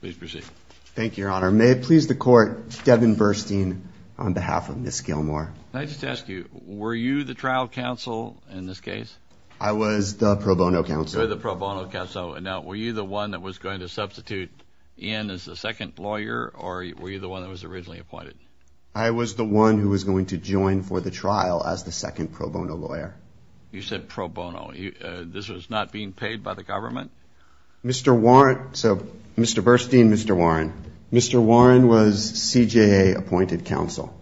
Please proceed. Thank you, your honor. May it please the court, Devin Burstein on behalf of Ms. Gilmore. Can I just ask you, were you the trial counsel in this case? I was the pro bono counsel. You were the pro bono counsel. Now, were you the one that was going to substitute in as the second lawyer or were you the one that was originally appointed? I was the one who was going to join for the trial as the second pro bono lawyer. You said pro bono. This was not being paid by the Mr. Burstein, Mr. Warren. Mr. Warren was CJA appointed counsel.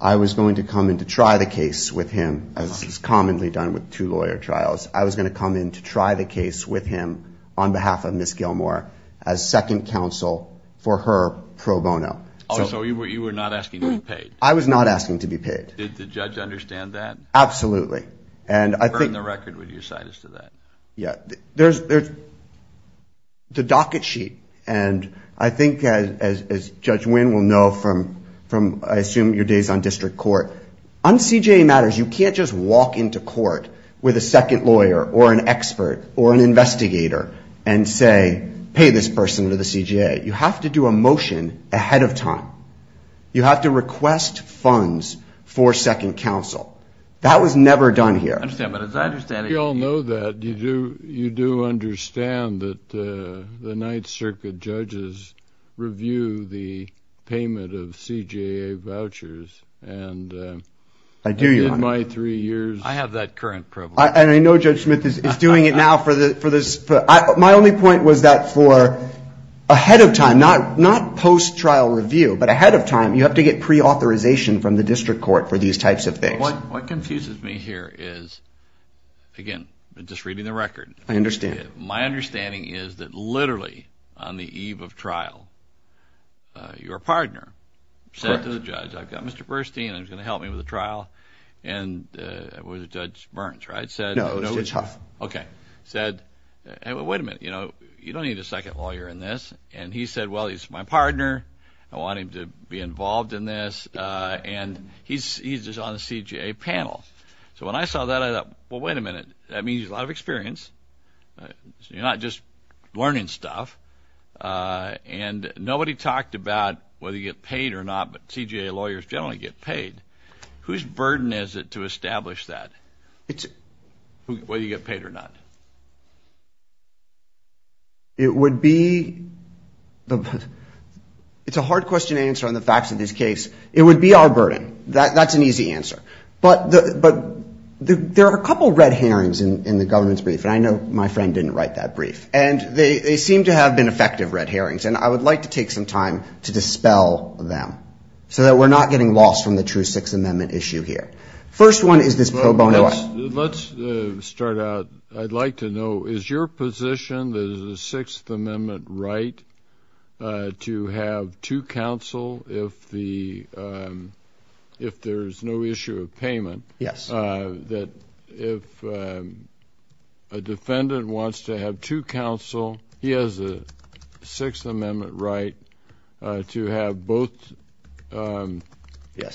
I was going to come in to try the case with him as is commonly done with two lawyer trials. I was going to come in to try the case with him on behalf of Ms. Gilmore as second counsel for her pro bono. Oh, so you were not asking to be paid? I was not asking to be paid. Did the judge understand that? Absolutely. Burn the record with your sinus to that. Yeah. There's the docket sheet and I think as Judge Winn will know from I assume your days on district court, on CJA matters, you can't just walk into court with a second lawyer or an expert or an investigator and say, pay this person to the CJA. You have to do a motion ahead of time. You have to request funds for second counsel. That was never done here. I understand, but as I understand it- We all know that. You do understand that the Ninth Circuit judges review the payment of CJA vouchers and in my three years- I have that current privilege. I know Judge Smith is doing it now for this. My only point was that for ahead of time, not post trial review, but ahead of time, you have to get pre-authorization from the district court for these types of things. What confuses me here is, again, just reading the record- I understand. My understanding is that literally on the eve of trial, your partner said to the judge, I've got Mr. Burstein and he's going to help me with the trial and Judge Burns, right? No, Judge Huff. Okay. Wait a minute. You don't need a second lawyer in this and he said, well, he's my partner. I want him to be involved in this and he's just on the CJA panel. So when I saw that, I thought, well, wait a minute. That means he's a lot of experience. You're not just learning stuff and nobody talked about whether you get paid or not, but CJA lawyers generally get paid. Whose burden is it to establish that, whether you get paid or not? It would be the- it's a hard question to answer on the facts of this case. It would be our burden. That's an easy answer. But there are a couple red herrings in the government's brief, and I know my friend didn't write that brief, and they seem to have been effective red herrings, and I would like to take some time to dispel them so that we're not getting lost from the true Sixth Amendment issue here. First one is this pro bono- Let's start out. I'd like to know, is your position that it is a Sixth Amendment right to have two counsel if there's no issue of payment? Yes. That if a defendant wants to have two counsel, he has a Sixth Amendment right to have both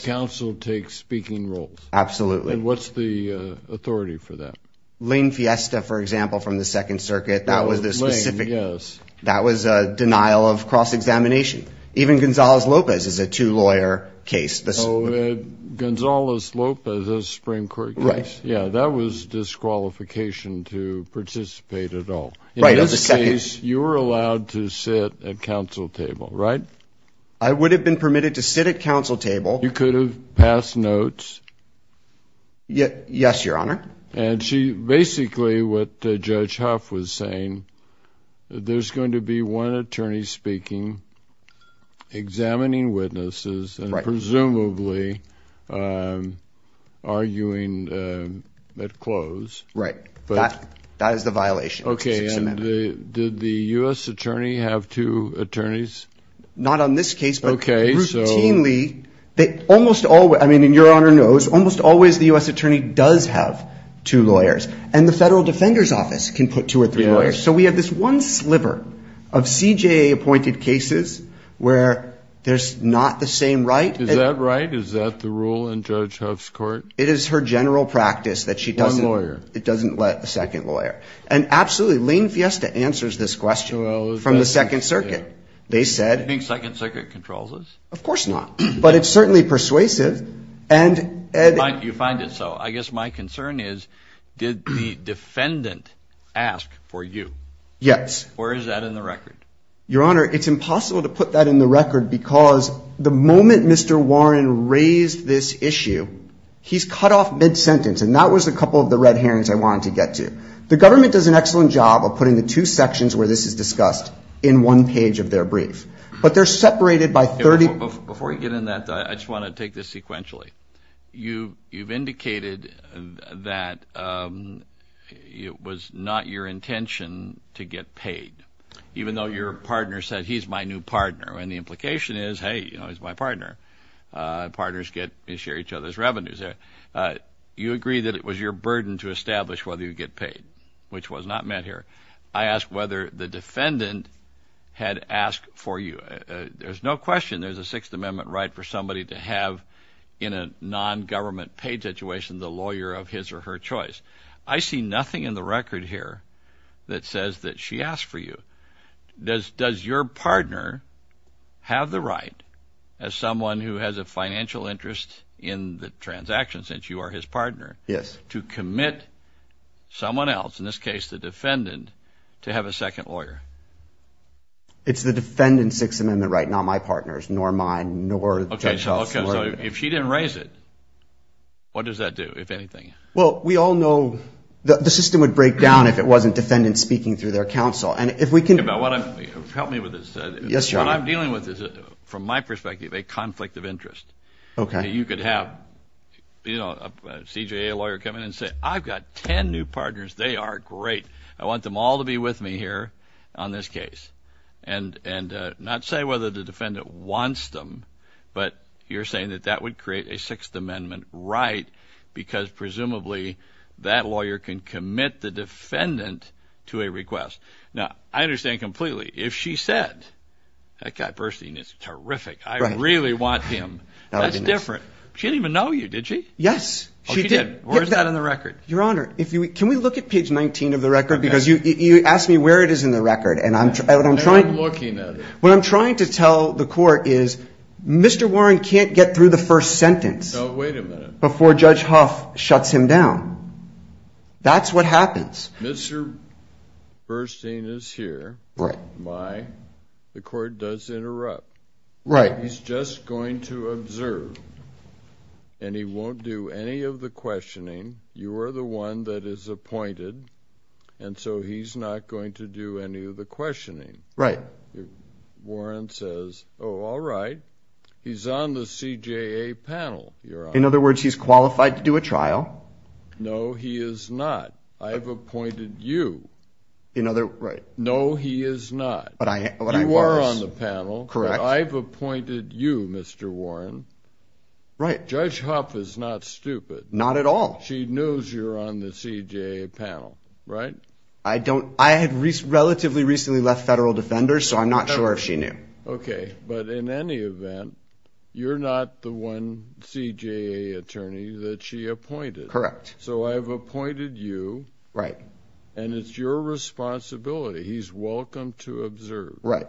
counsel take speaking roles? Absolutely. And what's the authority for that? Lane Fiesta, for example, from the Second Circuit, that was a denial of cross-examination. Even Gonzales-Lopez is a two-lawyer case. Gonzales-Lopez is a Supreme Court case. Yeah, that was disqualification to participate at all. In this case, you were allowed to sit at counsel table, right? I would have been permitted to sit at counsel table. You could have passed notes? Yes, Your Honor. And basically what Judge Huff was saying, there's going to be one attorney speaking, examining witnesses, and presumably arguing at close. Right. That is the violation. Okay. And did the U.S. attorney have two attorneys? Not on this case, but routinely, almost always, I mean, and Your Honor knows, almost always the U.S. attorney does have two lawyers. And the Federal Defender's Office can put two or three lawyers. So we have this one sliver of CJA-appointed cases where there's not the same right. Is that right? Is that the rule in Judge Huff's court? It is her general practice that she doesn't... One lawyer. It doesn't let a second lawyer. And absolutely, Lane Fiesta answers this question from the Second Circuit. They said... Do you think Second Circuit controls this? Of course not. But it's certainly persuasive. And you find it so. I guess my concern is, did the defendant ask for you? Yes. Where is that in the record? Your Honor, it's impossible to put that in the record because the moment Mr. Warren raised this issue, he's cut off mid-sentence. And that was a couple of the red herrings I wanted to get to. The government does an excellent job of putting the two sections where this is discussed in one page of their brief. But they're separated by 30... Before you get in that, I just want to take this sequentially. You've indicated that it was not your intention to get paid, even though your partner said, he's my new partner. And the implication is, hey, he's my partner. Partners get to share each other's revenues. You agree that it was your burden to establish whether you get paid, which was not met here. I asked whether the defendant had asked for you. There's no question there's a Sixth Amendment right for somebody to have in a non-government paid situation, the lawyer of his or her choice. I see nothing in the record here that says that she asked for you. Does your partner have the right, as someone who has a financial interest in the transaction, since you are his partner, to commit someone else, in this case, the defendant, to have a second lawyer? It's the defendant's Sixth Amendment right, not my partner's, nor mine, nor... Okay, so if she didn't raise it, what does that do, if anything? Well, we all know the system would break down if it wasn't defendants speaking through their counsel. And if we can... Think about what I'm... Help me with this. Yes, Your Honor. What I'm dealing with is, from my perspective, a conflict of interest. Okay. You could have, you know, a CJA lawyer come in and say, I've got 10 new partners, they are great. I want them all to be with me here on this case. And not say whether the defendant wants them, but you're saying that that would create a Sixth Amendment right, because presumably that lawyer can commit the defendant to a request. Now, I understand completely. If she said, that guy Burstein is terrific, I really want him. That's different. She didn't even know you, did she? Yes, she did. Where's that in the record? Your Honor, if you... Can we look at page 19 of the record? Because you asked me where it is in the record. And I'm trying... And I'm looking at it. What I'm trying to tell the court is, Mr. Warren can't get through the first sentence. No, wait a minute. Before Judge Huff shuts him down. That's what happens. Mr. Burstein is here. Right. My, the court does interrupt. Right. He's just going to observe. And he won't do any of the questioning. You are the one that is appointed. And so he's not going to do any of the questioning. Right. Warren says, oh, all right. He's on the CJA panel, Your Honor. In other words, he's qualified to do a trial. No, he is not. I've appointed you. In other... Right. No, he is not. But I... You are on the panel. Correct. I've appointed you, Mr. Warren. Right. Judge Huff is not stupid. Not at all. She knows you're on the CJA panel, right? I don't. I had relatively recently left Federal Defenders, so I'm not sure if she knew. Okay. But in any event, you're not the one CJA attorney that she appointed. Correct. So I've appointed you. Right. And it's your responsibility. He's welcome to observe. Right.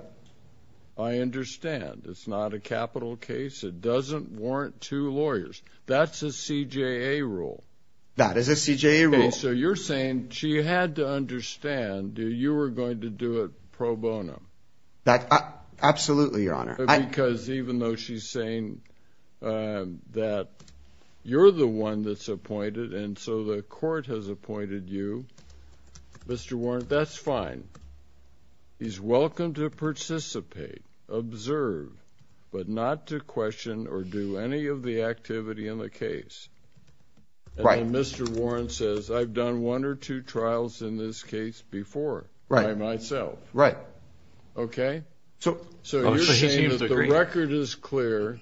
I understand. It's not a capital case. It doesn't warrant two lawyers. That's a CJA rule. That is a CJA rule. So you're saying she had to understand that you were going to do it pro bono. Absolutely, Your Honor. Because even though she's saying that you're the one that's appointed, and so the court has appointed you, Mr. Warren, that's fine. He's welcome to participate, observe, but not to question or do any of the activity in the case. Right. And then Mr. Warren says, I've done one or two trials in this case before by myself. Right. Okay? So you're saying that the record is clear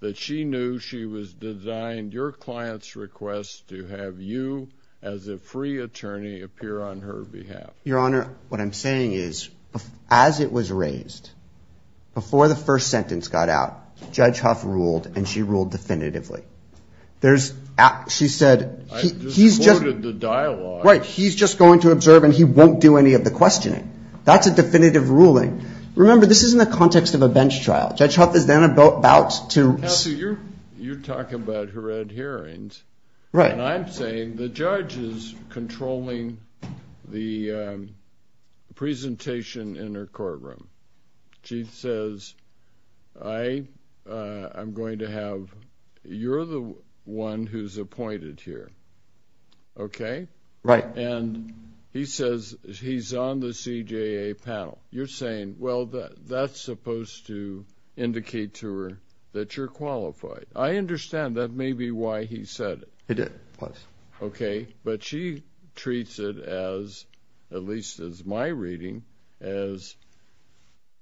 that she knew she was designed your client's request to have you as a free attorney appear on her behalf. Your Honor, what I'm saying is, as it was raised, before the first sentence got out, Judge Huff ruled, and she ruled definitively. There's, she said, he's just going to observe, and he won't do any of the questioning. That's a definitive ruling. Remember, this is in the context of a bench trial. Judge Huff is then about to... presentation in her courtroom. She says, I'm going to have, you're the one who's appointed here. Okay? Right. And he says, he's on the CJA panel. You're saying, well, that's supposed to indicate to her that you're qualified. I understand that may be why he said it. It did, it was. Okay. But she treats it as, at least as my reading, as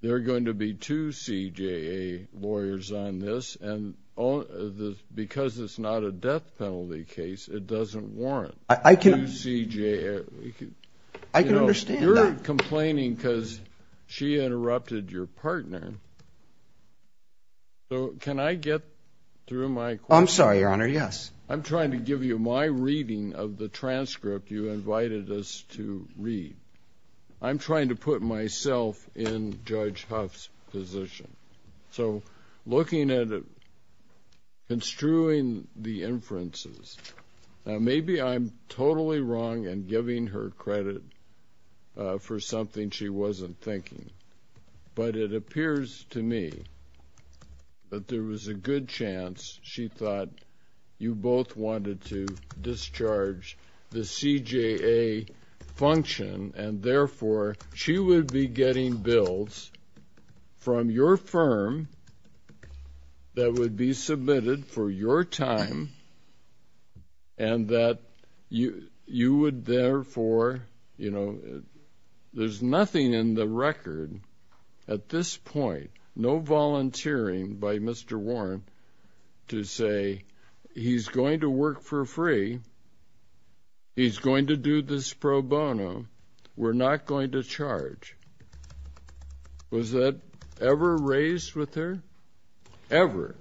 they're going to be two CJA lawyers on this, and because it's not a death penalty case, it doesn't warrant two CJA. I can understand that. You're complaining because she interrupted your partner. So can I get through my... I'm sorry, Your Honor. Yes. I'm trying to give you my reading of the transcript you invited us to read. I'm trying to put myself in Judge Huff's position. So looking at it, construing the inferences, maybe I'm totally wrong in giving her credit for something she wasn't thinking, but it appears to me that there was a good chance she thought you both wanted to discharge the CJA function, and therefore she would be getting bills from your firm that would be submitted for your time, and that you would therefore, you know, there's nothing in the record at this point, no volunteering by Mr. Warren to say, he's going to work for free, he's going to do this pro bono, we're not going to charge. Was that ever raised with her? Ever.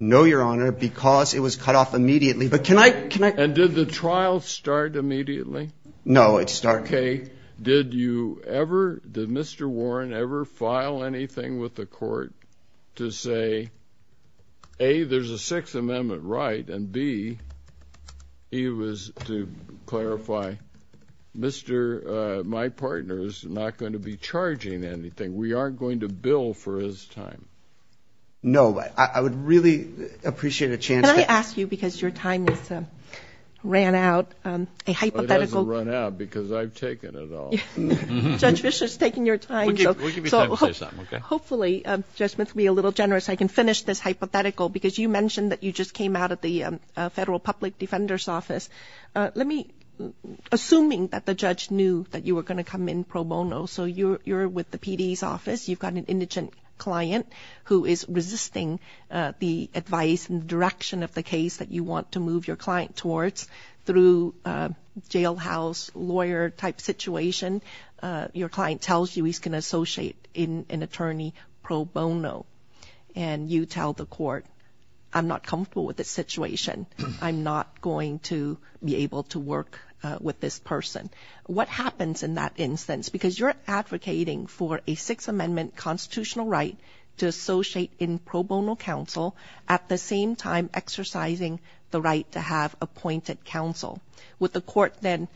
No, Your Honor, because it was cut off immediately. But can I, can I... And did the trial start immediately? No, it started... Okay. Did you ever, did Mr. Warren ever file anything with the court to say, A, there's a Sixth Amendment right, and B, he was to clarify, Mr., my partner's not going to be charging anything, we aren't going to bill for his time. No, I would really appreciate a chance to... Because your time has ran out, a hypothetical... It hasn't run out because I've taken it all. Judge Fischer's taking your time. We'll give you time to say something, okay? Hopefully, Judge Smith, be a little generous, I can finish this hypothetical, because you mentioned that you just came out of the Federal Public Defender's Office. Let me, assuming that the judge knew that you were going to come in pro bono, so you're with the PD's office, you've got an indigent client who is resisting the advice and direction of the case that you want to move your client towards, through jailhouse lawyer type situation, your client tells you he's going to associate in an attorney pro bono, and you tell the court, I'm not comfortable with this situation, I'm not going to be able to work with this person. What happens in that instance? Because you're advocating for a Sixth Amendment constitutional right to associate in pro bono counsel, at the same time exercising the right to have appointed counsel. Would the court then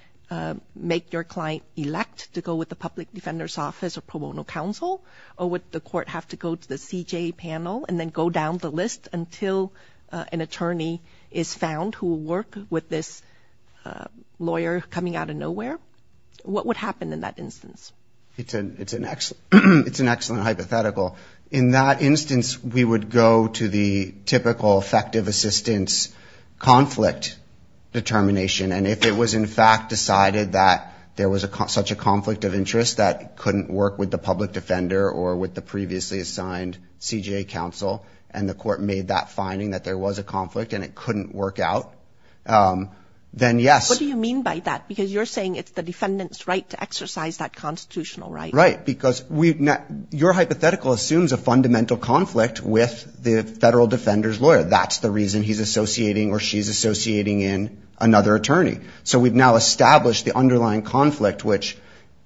make your client elect to go with the Public Defender's Office or pro bono counsel, or would the court have to go to the CJ panel and then go down the list until an attorney is found who will work with this lawyer coming out of nowhere? What would happen in that instance? It's an excellent hypothetical. In that instance, we would go to the typical effective assistance conflict determination, and if it was in fact decided that there was such a conflict of interest that couldn't work with the public defender or with the previously assigned CJ counsel, and the court made that finding that there was a conflict and it couldn't work out, then yes. What do you mean by that? Because you're saying it's the defendant's right to exercise that constitutional right. Right, because your hypothetical assumes a fundamental conflict with the federal defender's lawyer. That's the reason he's associating or she's associating in another attorney. So we've now established the underlying conflict, which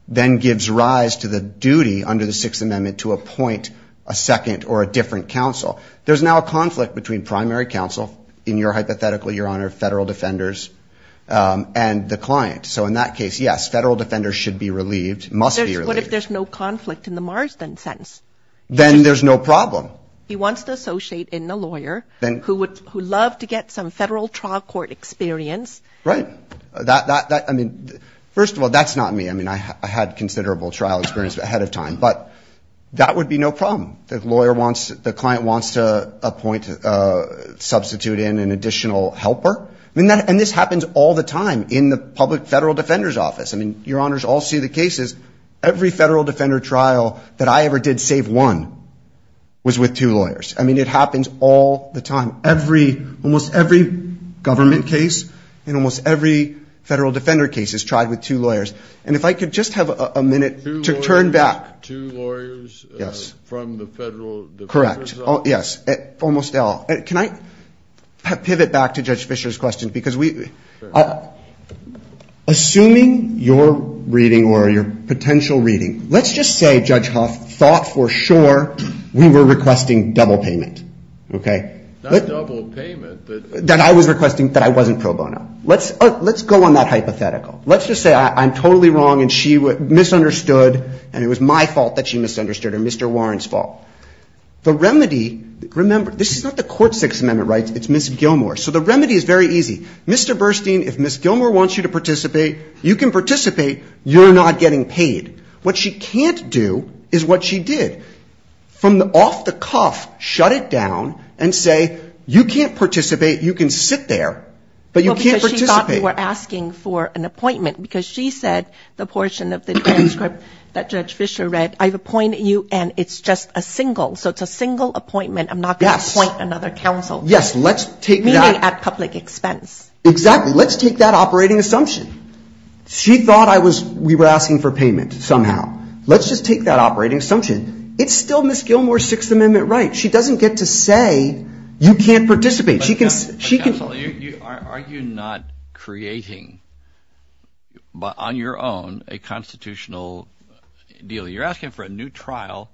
then gives rise to the duty under the Sixth Amendment to appoint a second or a different counsel. There's now a conflict between primary counsel, in your hypothetical, Your Honor, federal defenders and the client. So in that case, yes, federal defenders should be relieved, must be relieved. What if there's no conflict in the Marsden sentence? Then there's no problem. He wants to associate in a lawyer who would love to get some federal trial court experience. Right. First of all, that's not me. I mean, I had considerable trial experience ahead of time, but that would be no problem. The client wants to substitute in an additional helper. And this happens all the time in the public federal defender's office. I mean, Your Honors all see the cases. Every federal defender trial that I ever did save one was with two lawyers. I mean, it happens all the time. Almost every government case and almost every federal defender case is tried with two lawyers. And if I could just have a minute to turn back. Two lawyers from the federal defender's office? Correct. Yes. Almost all. Can I pivot back to Judge Fischer's question? Assuming your reading or your potential reading, let's just say Judge Huff thought for sure we were requesting double payment, okay? Not double payment, but... That I was requesting that I wasn't pro bono. Let's go on that hypothetical. Let's just say I'm totally wrong and she misunderstood and it was my fault that she misunderstood or Mr. Warren's fault. The remedy... Remember, this is not the Court's Sixth Amendment rights. It's Ms. Gilmour. So the remedy is very easy. Mr. Burstein, if Ms. Gilmour wants you to participate, you can participate. You're not getting paid. What she can't do is what she did. From off the cuff, shut it down and say, you can't participate. You can sit there, but you can't participate. We're asking for an appointment because she said the portion of the transcript that Judge Fischer read, I've appointed you and it's just a single. So it's a single appointment. I'm not going to appoint another counsel. Yes, let's take that... Meaning at public expense. Exactly. Let's take that operating assumption. She thought we were asking for payment somehow. Let's just take that operating assumption. It's still Ms. Gilmour's Sixth Amendment right. She doesn't get to say you can't participate. But counsel, are you not creating on your own a constitutional deal? You're asking for a new trial,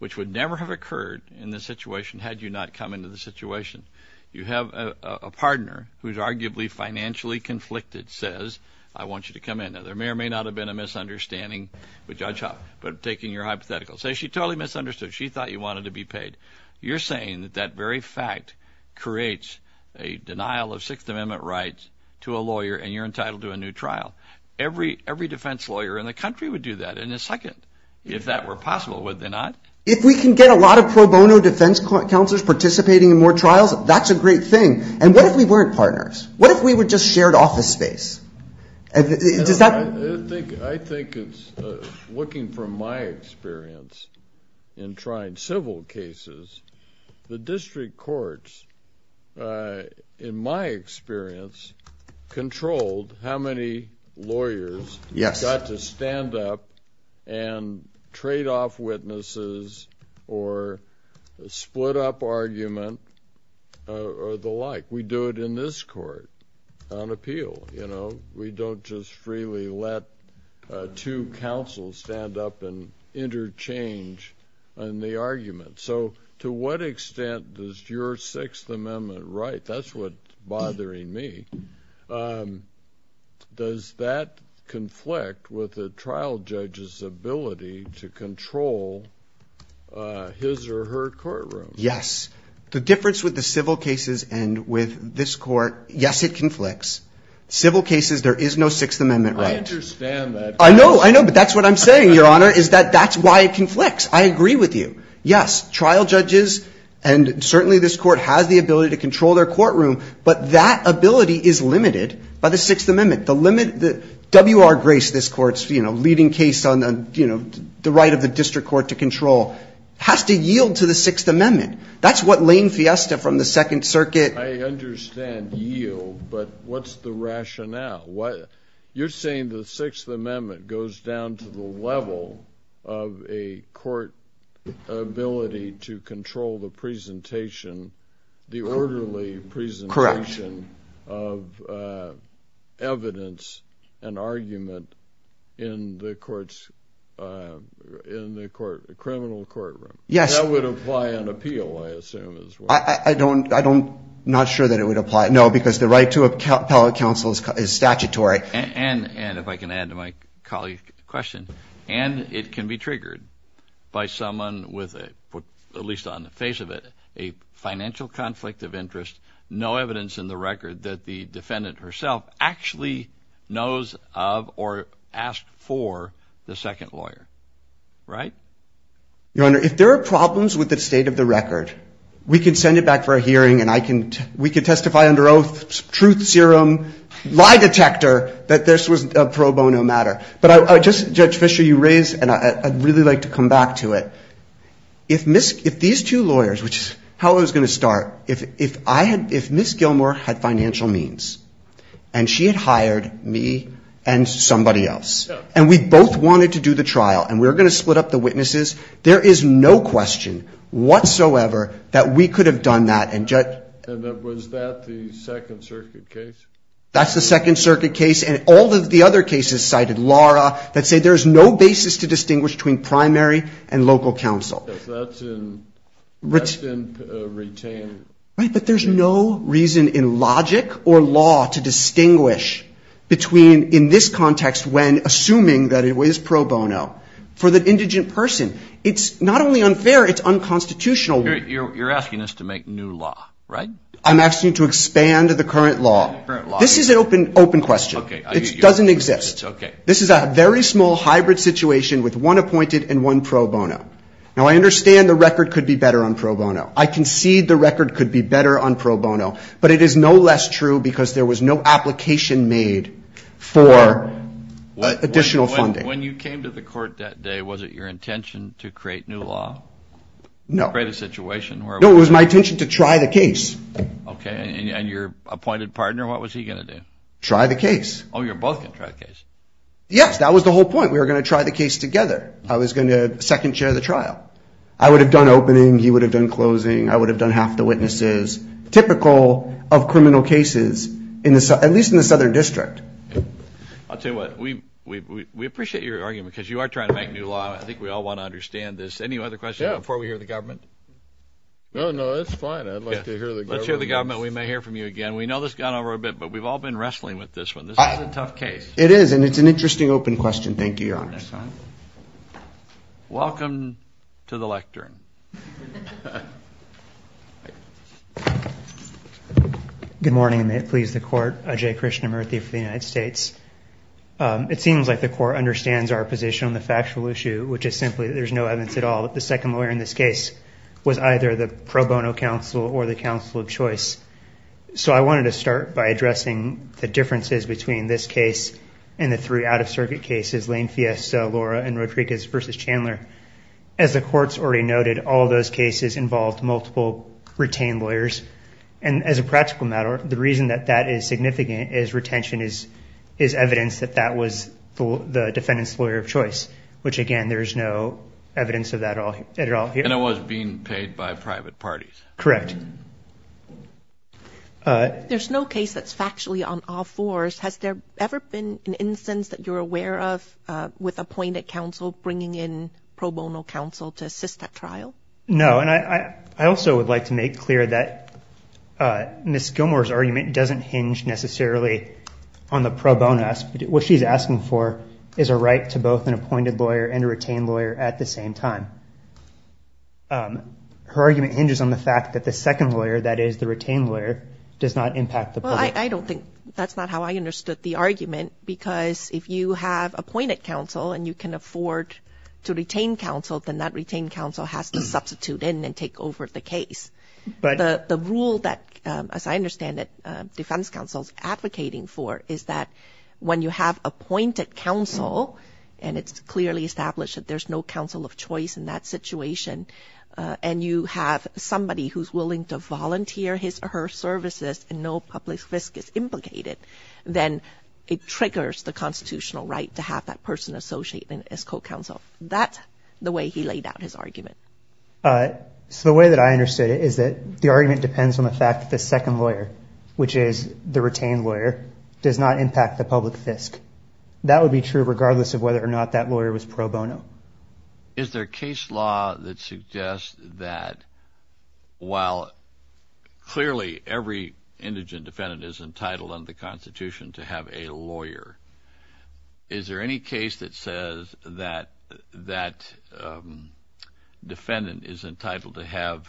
which would never have occurred in this situation had you not come into the situation. You have a partner who's arguably financially conflicted says, I want you to come in. Now, there may or may not have been a misunderstanding with Judge Hoppe, but taking your hypothetical, say she totally misunderstood. She thought you wanted to be paid. You're saying that that very fact creates a denial of Sixth Amendment rights to a lawyer and you're entitled to a new trial. Every defense lawyer in the country would do that in a second. If that were possible, would they not? If we can get a lot of pro bono defense counselors participating in more trials, that's a great thing. And what if we weren't partners? What if we were just shared office space? I think it's looking from my experience in trying civil cases, the district courts, in my experience, controlled how many lawyers got to stand up and trade off witnesses or split up argument or the like. We do it in this court on appeal. We don't just freely let two counsels stand up and interchange on the argument. So to what extent does your Sixth Amendment right? That's what's bothering me. Does that conflict with the trial judge's ability to control his or her courtroom? Yes. The difference with the civil cases and with this court, yes, it conflicts. Civil cases, there is no Sixth Amendment right. I understand that. I know, I know. But that's what I'm saying, Your Honor, is that that's why it conflicts. I agree with you. Yes, trial judges and certainly this court has the ability to control their courtroom. But that ability is limited by the Sixth Amendment. The limit that W.R. Grace, this court's leading case on the right of the district court to control, has to yield to the Sixth Amendment. That's what Lane Fiesta from the Second Circuit. I understand yield, but what's the rationale? You're saying the Sixth Amendment goes down to the level of a court ability to control the presentation, the orderly presentation of evidence and argument in the criminal courtroom. Yes. That would apply on appeal, I assume as well. I'm not sure that it would apply. No, because the right to appellate counsel is statutory. And if I can add to my colleague's question, and it can be triggered by someone with, at least on the face of it, a financial conflict of interest, no evidence in the record that the defendant herself actually knows of or asked for the second lawyer, right? Your Honor, if there are problems with the state of the record, we can send it back for a hearing, and we can testify under oath, truth serum, lie detector, that this was a pro bono matter. But Judge Fischer, you raised, and I'd really like to come back to it, if these two lawyers, which is how I was going to start, if Ms. Gilmour had financial means, and she had hired me and somebody else, and we both wanted to do the trial, and we were going to split up the witnesses, there is no question whatsoever that we could have done that. And was that the Second Circuit case? That's the Second Circuit case. And all of the other cases cited, Laura, that say there's no basis to distinguish between primary and local counsel. Because that's in retained. Right, but there's no reason in logic or law to distinguish between, in this context, when, assuming that it was pro bono, for the indigent person, it's not only unfair, it's unconstitutional. You're asking us to make new law, right? I'm asking you to expand the current law. This is an open question. It doesn't exist. This is a very small hybrid situation with one appointed and one pro bono. Now, I understand the record could be better on pro bono. I concede the record could be better on pro bono. But it is no less true because there was no application made for additional funding. When you came to the court that day, was it your intention to create new law? No. Create a situation where... No, it was my intention to try the case. Okay, and your appointed partner, what was he going to do? Try the case. Oh, you're both going to try the case? Yes, that was the whole point. We were going to try the case together. I was going to second chair the trial. I would have done opening. He would have done closing. I would have done half the witnesses. Typical of criminal cases, at least in the Southern District. I'll tell you what, we appreciate your argument because you are trying to make new law. I think we all want to understand this. Any other questions before we hear the government? No, no, that's fine. I'd like to hear the government. Let's hear the government. We may hear from you again. We know this has gone over a bit, but we've all been wrestling with this one. This is a tough case. It is, and it's an interesting open question. Thank you, Your Honor. Welcome to the lectern. Good morning, and may it please the court. Ajay Krishnamurthy for the United States. It seems like the court understands our position on the factual issue, which is simply that there's no evidence at all that the second lawyer in this case was either the pro bono counsel or the counsel of choice. So I wanted to start by addressing the differences between this case and the three out of circuit cases, Lane Fiesta, Laura, and Rodriguez v. Chandler. As the court's already noted, all those cases involved multiple retained lawyers. And as a practical matter, the reason that that is significant is retention is evidence that that was the defendant's lawyer of choice, which again, there's no evidence of that at all here. And it was being paid by private parties. Correct. There's no case that's factually on all fours. Has there ever been an instance that you're aware of with appointed counsel bringing in pro bono counsel to assist that trial? No. And I also would like to make clear that Ms. Gilmour's argument doesn't hinge necessarily on the pro bono aspect. What she's asking for is a right to both an appointed lawyer and a retained lawyer at the same time. Her argument hinges on the fact that the second lawyer, that is the retained lawyer, does not impact the public. I don't think that's not how I understood the argument, because if you have appointed counsel and you can afford to retain counsel, then that retained counsel has to substitute in and take over the case. The rule that, as I understand it, defense counsel's advocating for is that when you have appointed counsel, and it's clearly established that there's no counsel of choice in that situation, and you have somebody who's willing to the constitutional right to have that person associate as co-counsel. That's the way he laid out his argument. So the way that I understood it is that the argument depends on the fact that the second lawyer, which is the retained lawyer, does not impact the public fisc. That would be true regardless of whether or not that lawyer was pro bono. Is there a case law that suggests that while clearly every indigent defendant is entitled under the Constitution to have a lawyer, is there any case that says that that defendant is entitled to have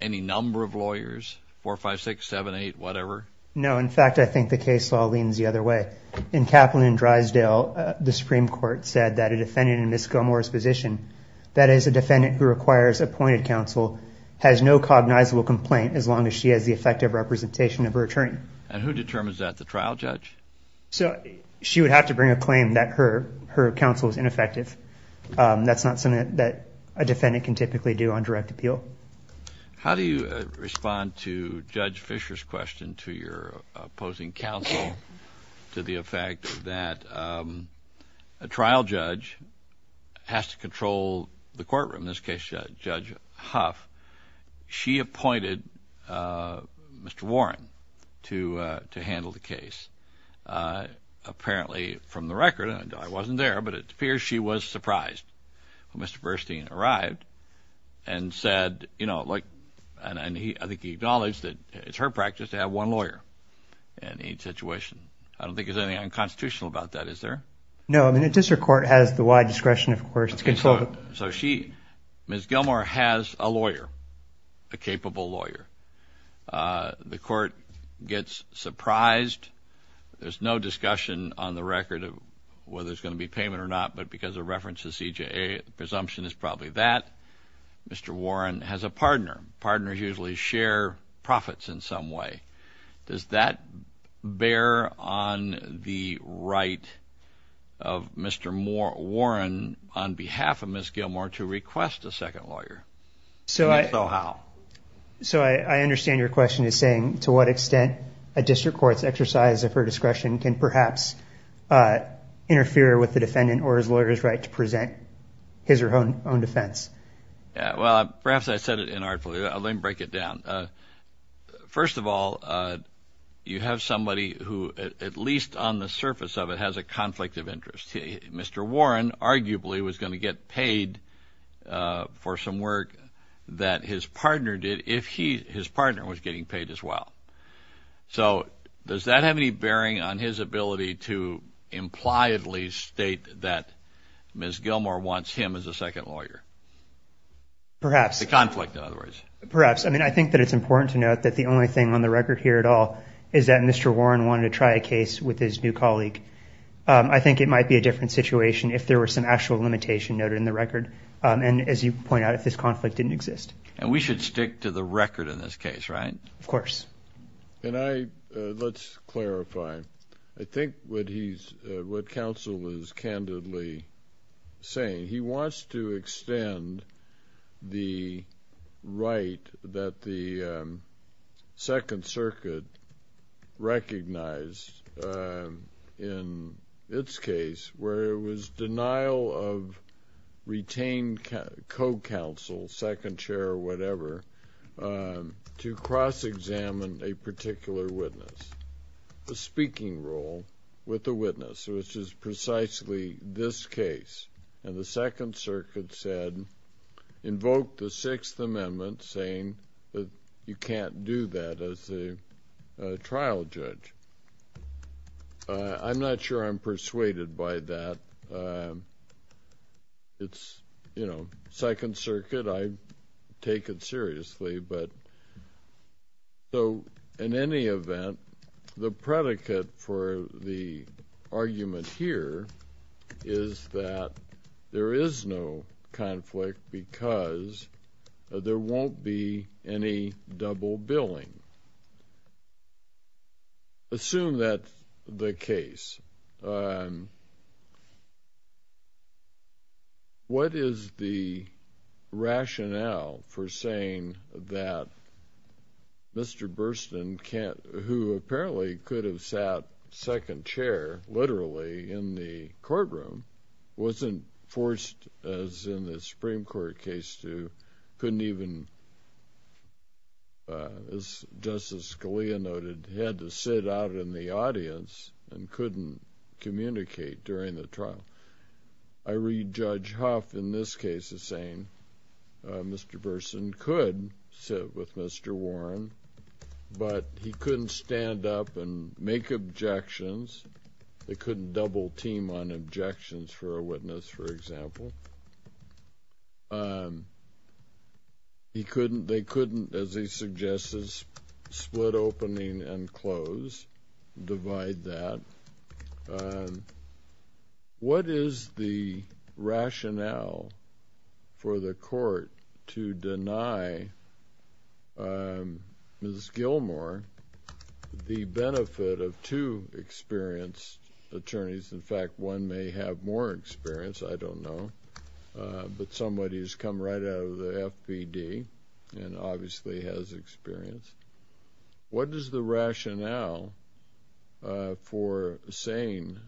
any number of lawyers, 4, 5, 6, 7, 8, whatever? No. In fact, I think the case law leans the other way. In Kaplan and Drysdale, the Supreme Court said that a defendant in Ms. Gilmour's position, that is a defendant who requires appointed counsel, has no cognizable complaint as long as she has the effective representation of her attorney. And who determines that? The trial judge? So she would have to bring a claim that her counsel is ineffective. That's not something that a defendant can typically do on direct appeal. How do you respond to Judge Fisher's question to your opposing counsel to the effect that a trial judge has to control the courtroom? In this case, Judge Huff, she appointed Mr. Warren to handle the case. Apparently, from the record, and I wasn't there, but it appears she was surprised when Mr. Burstein arrived and said, you know, like, and I think he acknowledged that it's her practice to have one lawyer in each situation. I don't think there's anything unconstitutional about that, is there? No, I mean, the district court has the wide discretion, of course, to control the- So she, Ms. Gilmour, has a lawyer, a capable lawyer. The court gets surprised. There's no discussion on the record of whether there's going to be payment or not, but because of reference to CJA, the presumption is probably that. Mr. Warren has a partner. Partners usually share profits in some way. Does that bear on the right of Mr. Warren, on behalf of Ms. Gilmour, to request a second lawyer? And if so, how? So I understand your question is saying to what extent a district court's exercise of her discretion can perhaps interfere with the defendant or his lawyer's right to present his or her own defense? Well, perhaps I said it inartfully. Let me break it down. First of all, you have somebody who, at least on the surface of it, has a conflict of interest. Mr. Warren arguably was going to get paid for some work that his partner did if his partner was getting paid as well. So does that have any bearing on his ability to impliedly state that Ms. Gilmour wants him as a second lawyer? Perhaps. The conflict, in other words. Perhaps. I think that it's important to note that the only thing on the record here at all is that Mr. Warren wanted to try a case with his new colleague. I think it might be a different situation if there were some actual limitation noted in the record. And as you point out, if this conflict didn't exist. And we should stick to the record in this case, right? Of course. And I, let's clarify. I think what he's, what counsel was candidly saying, he wants to extend the right that the Second Circuit recognized in its case, where it was denial of retained co-counsel, second chair or whatever, to cross-examine a particular witness. The speaking role with the witness, which is precisely this case. And the Second Circuit said, invoke the Sixth Amendment saying you can't do that as a trial judge. I'm not sure I'm persuaded by that. It's, you know, Second Circuit. I take it seriously. But so, in any event, the predicate for the argument here is that there is no conflict because there won't be any double billing. Assume that the case. And what is the rationale for saying that Mr. Burstyn can't, who apparently could have sat second chair, literally in the courtroom, wasn't forced, as in the Supreme Court case, to couldn't even, as Justice Scalia noted, had to sit out in the audience and couldn't communicate during the trial. I read Judge Huff in this case as saying Mr. Burstyn could sit with Mr. Warren, but he couldn't stand up and make objections. They couldn't double team on objections for a witness, for example. He couldn't, they couldn't, as he suggests, split opening and close, divide that. What is the rationale for the court to deny Ms. Gilmore the benefit of two experienced attorneys? In fact, one may have more experience. I don't know. But somebody who's come right out of the FPD and obviously has experience. What is the rationale for saying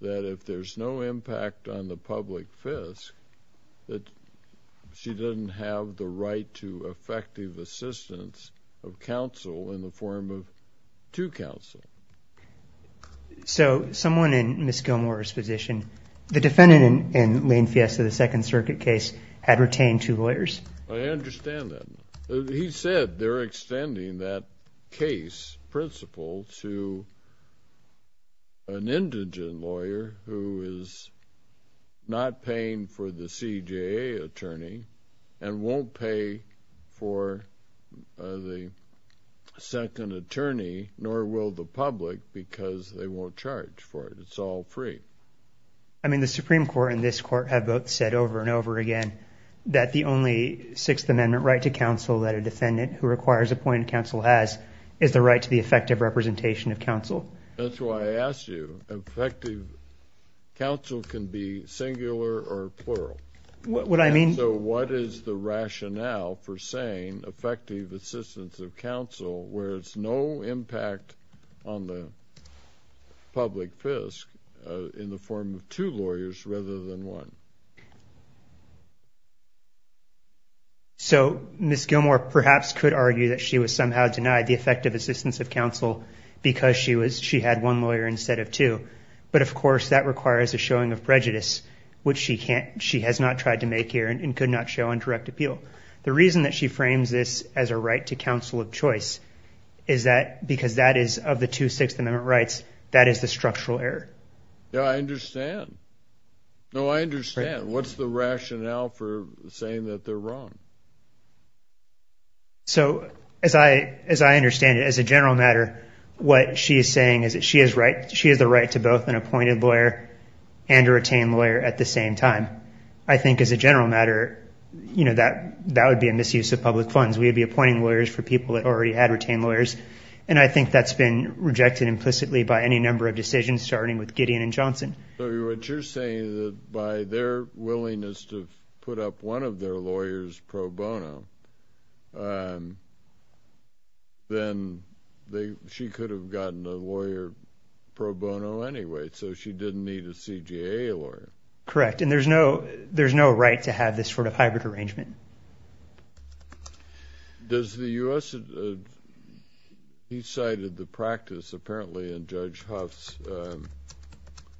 that if there's no impact on the public fisc, that she doesn't have the right to effective assistance of counsel in the form of two counsel? So, someone in Ms. Gilmore's position, the defendant in Lane Fiesta, the Second Circuit case, had retained two lawyers. I understand that. He said they're extending that case principle to an indigent lawyer who is not paying for the CJA attorney and won't pay for the second attorney, nor will the public, because they won't charge for it. It's all free. I mean, the Supreme Court and this court have both said over and over again that the only Sixth Amendment right to counsel that a defendant who requires appointed counsel has is the right to the effective representation of counsel. That's why I asked you, effective counsel can be singular or plural. What I mean. So, what is the rationale for saying effective assistance of counsel where it's no impact on the public fisc in the form of two lawyers rather than one? So, Ms. Gilmore perhaps could argue that she was somehow denied the effective assistance of counsel because she had one lawyer instead of two. But of course, that requires a showing of prejudice, which she has not tried to make here and could not show on direct appeal. The reason that she frames this as a right to counsel of choice is that because that is of the two Sixth Amendment rights, that is the structural error. Yeah, I understand. No, I understand. What's the rationale for saying that they're wrong? So, as I understand it, as a general matter, what she is saying is that she has the right to both an appointed lawyer and a retained lawyer at the same time. I think as a general matter, that would be a misuse of public funds. We would be appointing lawyers for people that already had retained lawyers. And I think that's been rejected implicitly by any number of decisions, starting with Gideon and Johnson. So, what you're saying is that by their willingness to put up one of their lawyers pro bono, then she could have gotten a lawyer pro bono anyway. So, she didn't need a CGA lawyer. Correct. And there's no right to have this sort of hybrid arrangement. Does the U.S. He cited the practice apparently in Judge Huff's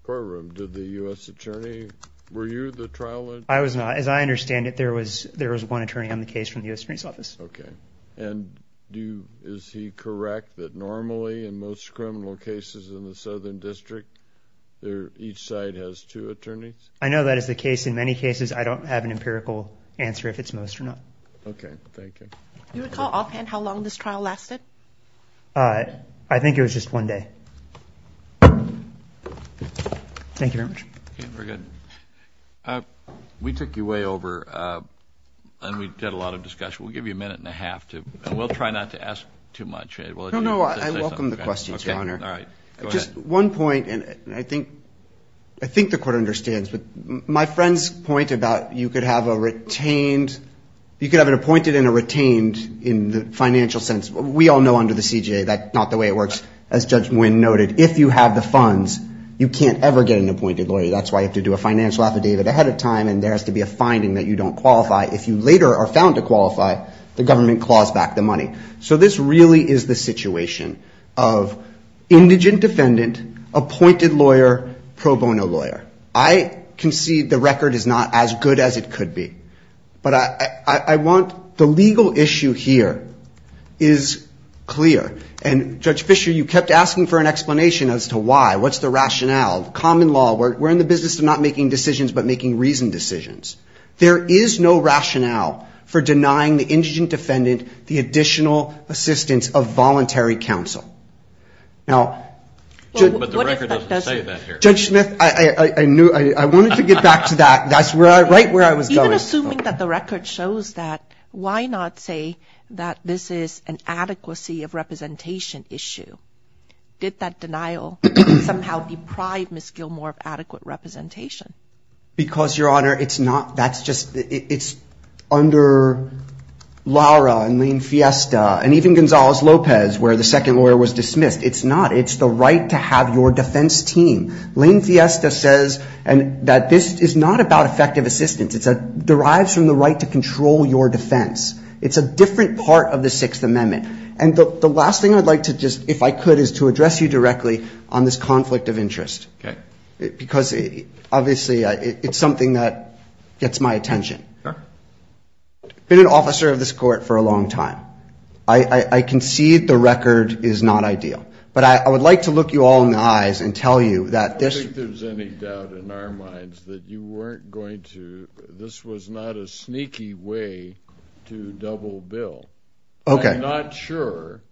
courtroom. Did the U.S. attorney, were you the trial attorney? I was not. As I understand it, there was one attorney on the case from the U.S. Attorney's Office. Okay. And is he correct that normally in most criminal cases in the Southern District, each side has two attorneys? I know that is the case. In many cases, I don't have an empirical answer if it's most or not. Okay. Thank you. Do you recall offhand how long this trial lasted? I think it was just one day. Thank you very much. Okay. We're good. We took you way over and we did a lot of discussion. We'll give you a minute and a half to, and we'll try not to ask too much. No, no. I welcome the questions, Your Honor. All right. Just one point, and I think the court understands, but my friend's point about you could have an appointed and a retained in the financial sense. We all know under the CJA that's not the way it works. As Judge Nguyen noted, if you have the funds, you can't ever get an appointed lawyer. That's why you have to do a financial affidavit ahead of time, and there has to be a finding that you don't qualify. If you later are found to qualify, the government claws back the money. This really is the situation of indigent defendant, appointed lawyer, pro bono lawyer. I can see the record is not as good as it could be, but the legal issue here is clear. Judge Fischer, you kept asking for an explanation as to why. What's the rationale? Common law, we're in the business of not making decisions, but making reasoned decisions. There is no rationale for denying the indigent defendant the additional assistance of voluntary counsel. Now, Judge Smith, I wanted to get back to that. That's right where I was going. Even assuming that the record shows that, why not say that this is an adequacy of representation issue? Did that denial somehow deprive Ms. Gilmore of adequate representation? Because, Your Honor, it's under Lara and Lane Fiesta, and even Gonzales-Lopez, where the second lawyer was dismissed. It's not. It's the right to have your defense team. Lane Fiesta says that this is not about effective assistance. It derives from the right to control your defense. It's a different part of the Sixth Amendment. And the last thing I'd like to just, if I could, is to address you directly on this conflict of interest. Because, obviously, it's something that gets my attention. I've been an officer of this court for a long time. I concede the record is not ideal. But I would like to look you all in the eyes and tell you that this- I don't think there's any doubt in our minds that you weren't going to, this was not a sneaky way to double bill. Okay. I'm not sure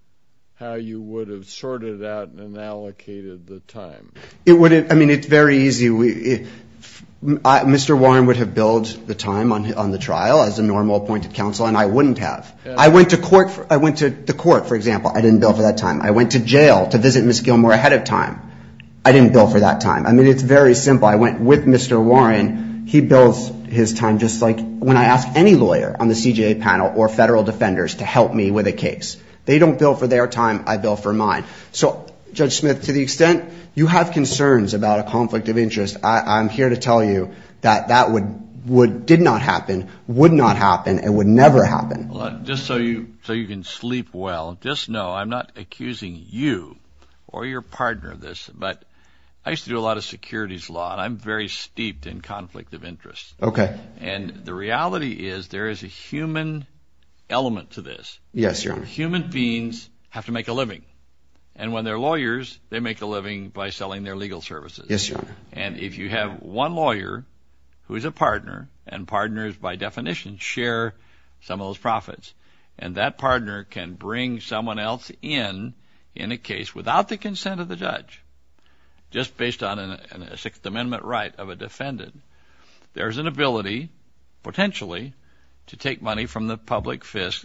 how you would have sorted out and allocated the time. It wouldn't. I mean, it's very easy. Mr. Warren would have billed the time on the trial as a normal appointed counsel, and I wouldn't have. I went to court. I went to the court, for example. I didn't bill for that time. I went to jail to visit Ms. Gilmore ahead of time. I didn't bill for that time. I mean, it's very simple. I went with Mr. Warren. He bills his time just like when I ask any lawyer on the CJA panel or federal defenders to help me with a case. They don't bill for their time. I bill for mine. So, Judge Smith, to the extent you have concerns about a conflict of interest, I'm here to tell you that that would- did not happen, would not happen, and would never happen. Just so you can sleep well, just know I'm not accusing you or your partner of this, but I used to do a lot of securities law, and I'm very steeped in conflict of interest. Okay. And the reality is there is a human element to this. Yes, Your Honor. Human beings have to make a living. And when they're lawyers, they make a living by selling their legal services. Yes, Your Honor. And if you have one lawyer who is a partner, and partners, by definition, share some of those profits, and that partner can bring someone else in, in a case without the consent of the judge, just based on a Sixth Amendment right of a defendant, there's an ability, potentially, to take money from the public fist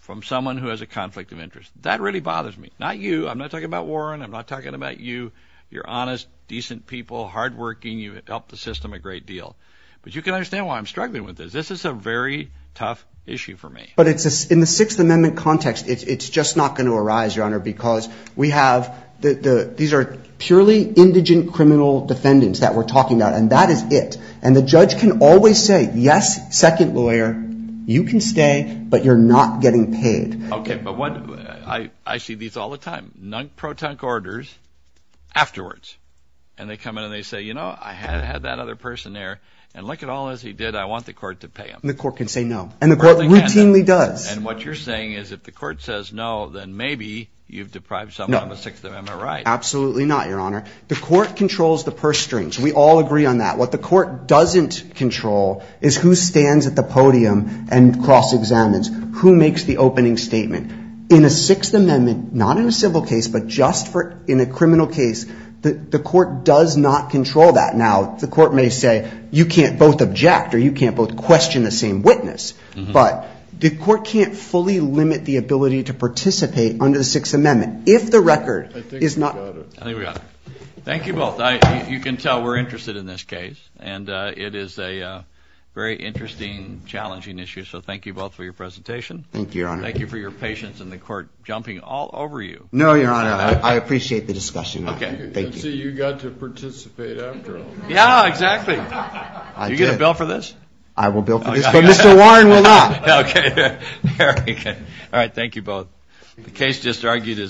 from someone who has a conflict of interest. That really bothers me. I'm not talking about Warren. I'm not talking about you. You're honest, decent people, hardworking. You help the system a great deal. But you can understand why I'm struggling with this. This is a very tough issue for me. But in the Sixth Amendment context, it's just not going to arise, Your Honor, because these are purely indigent criminal defendants that we're talking about, and that is it. And the judge can always say, yes, second lawyer, you can stay, but you're not getting paid. Okay, but I see these all the time, non-proton orders afterwards, and they come in and they say, you know, I had that other person there, and look at all as he did. I want the court to pay him. And the court can say no. And the court routinely does. And what you're saying is, if the court says no, then maybe you've deprived someone of a Sixth Amendment right. Absolutely not, Your Honor. The court controls the purse strings. We all agree on that. What the court doesn't control is who stands at the podium and cross-examines, who makes the opening statement. In a Sixth Amendment, not in a civil case, but just in a criminal case, the court does not control that. Now, the court may say, you can't both object, or you can't both question the same witness, but the court can't fully limit the ability to participate under the Sixth Amendment if the record is not... I think we got it. I think we got it. Thank you both. You can tell we're interested in this case, and it is a very interesting, challenging issue. So thank you both for your presentation. Thank you, Your Honor. Thank you for your patience, and the court jumping all over you. No, Your Honor. I appreciate the discussion. Okay. Thank you. You got to participate after all. Yeah, exactly. Do you get a bill for this? I will bill for this, but Mr. Warren will not. Okay. All right. Thank you both. The case just argued is...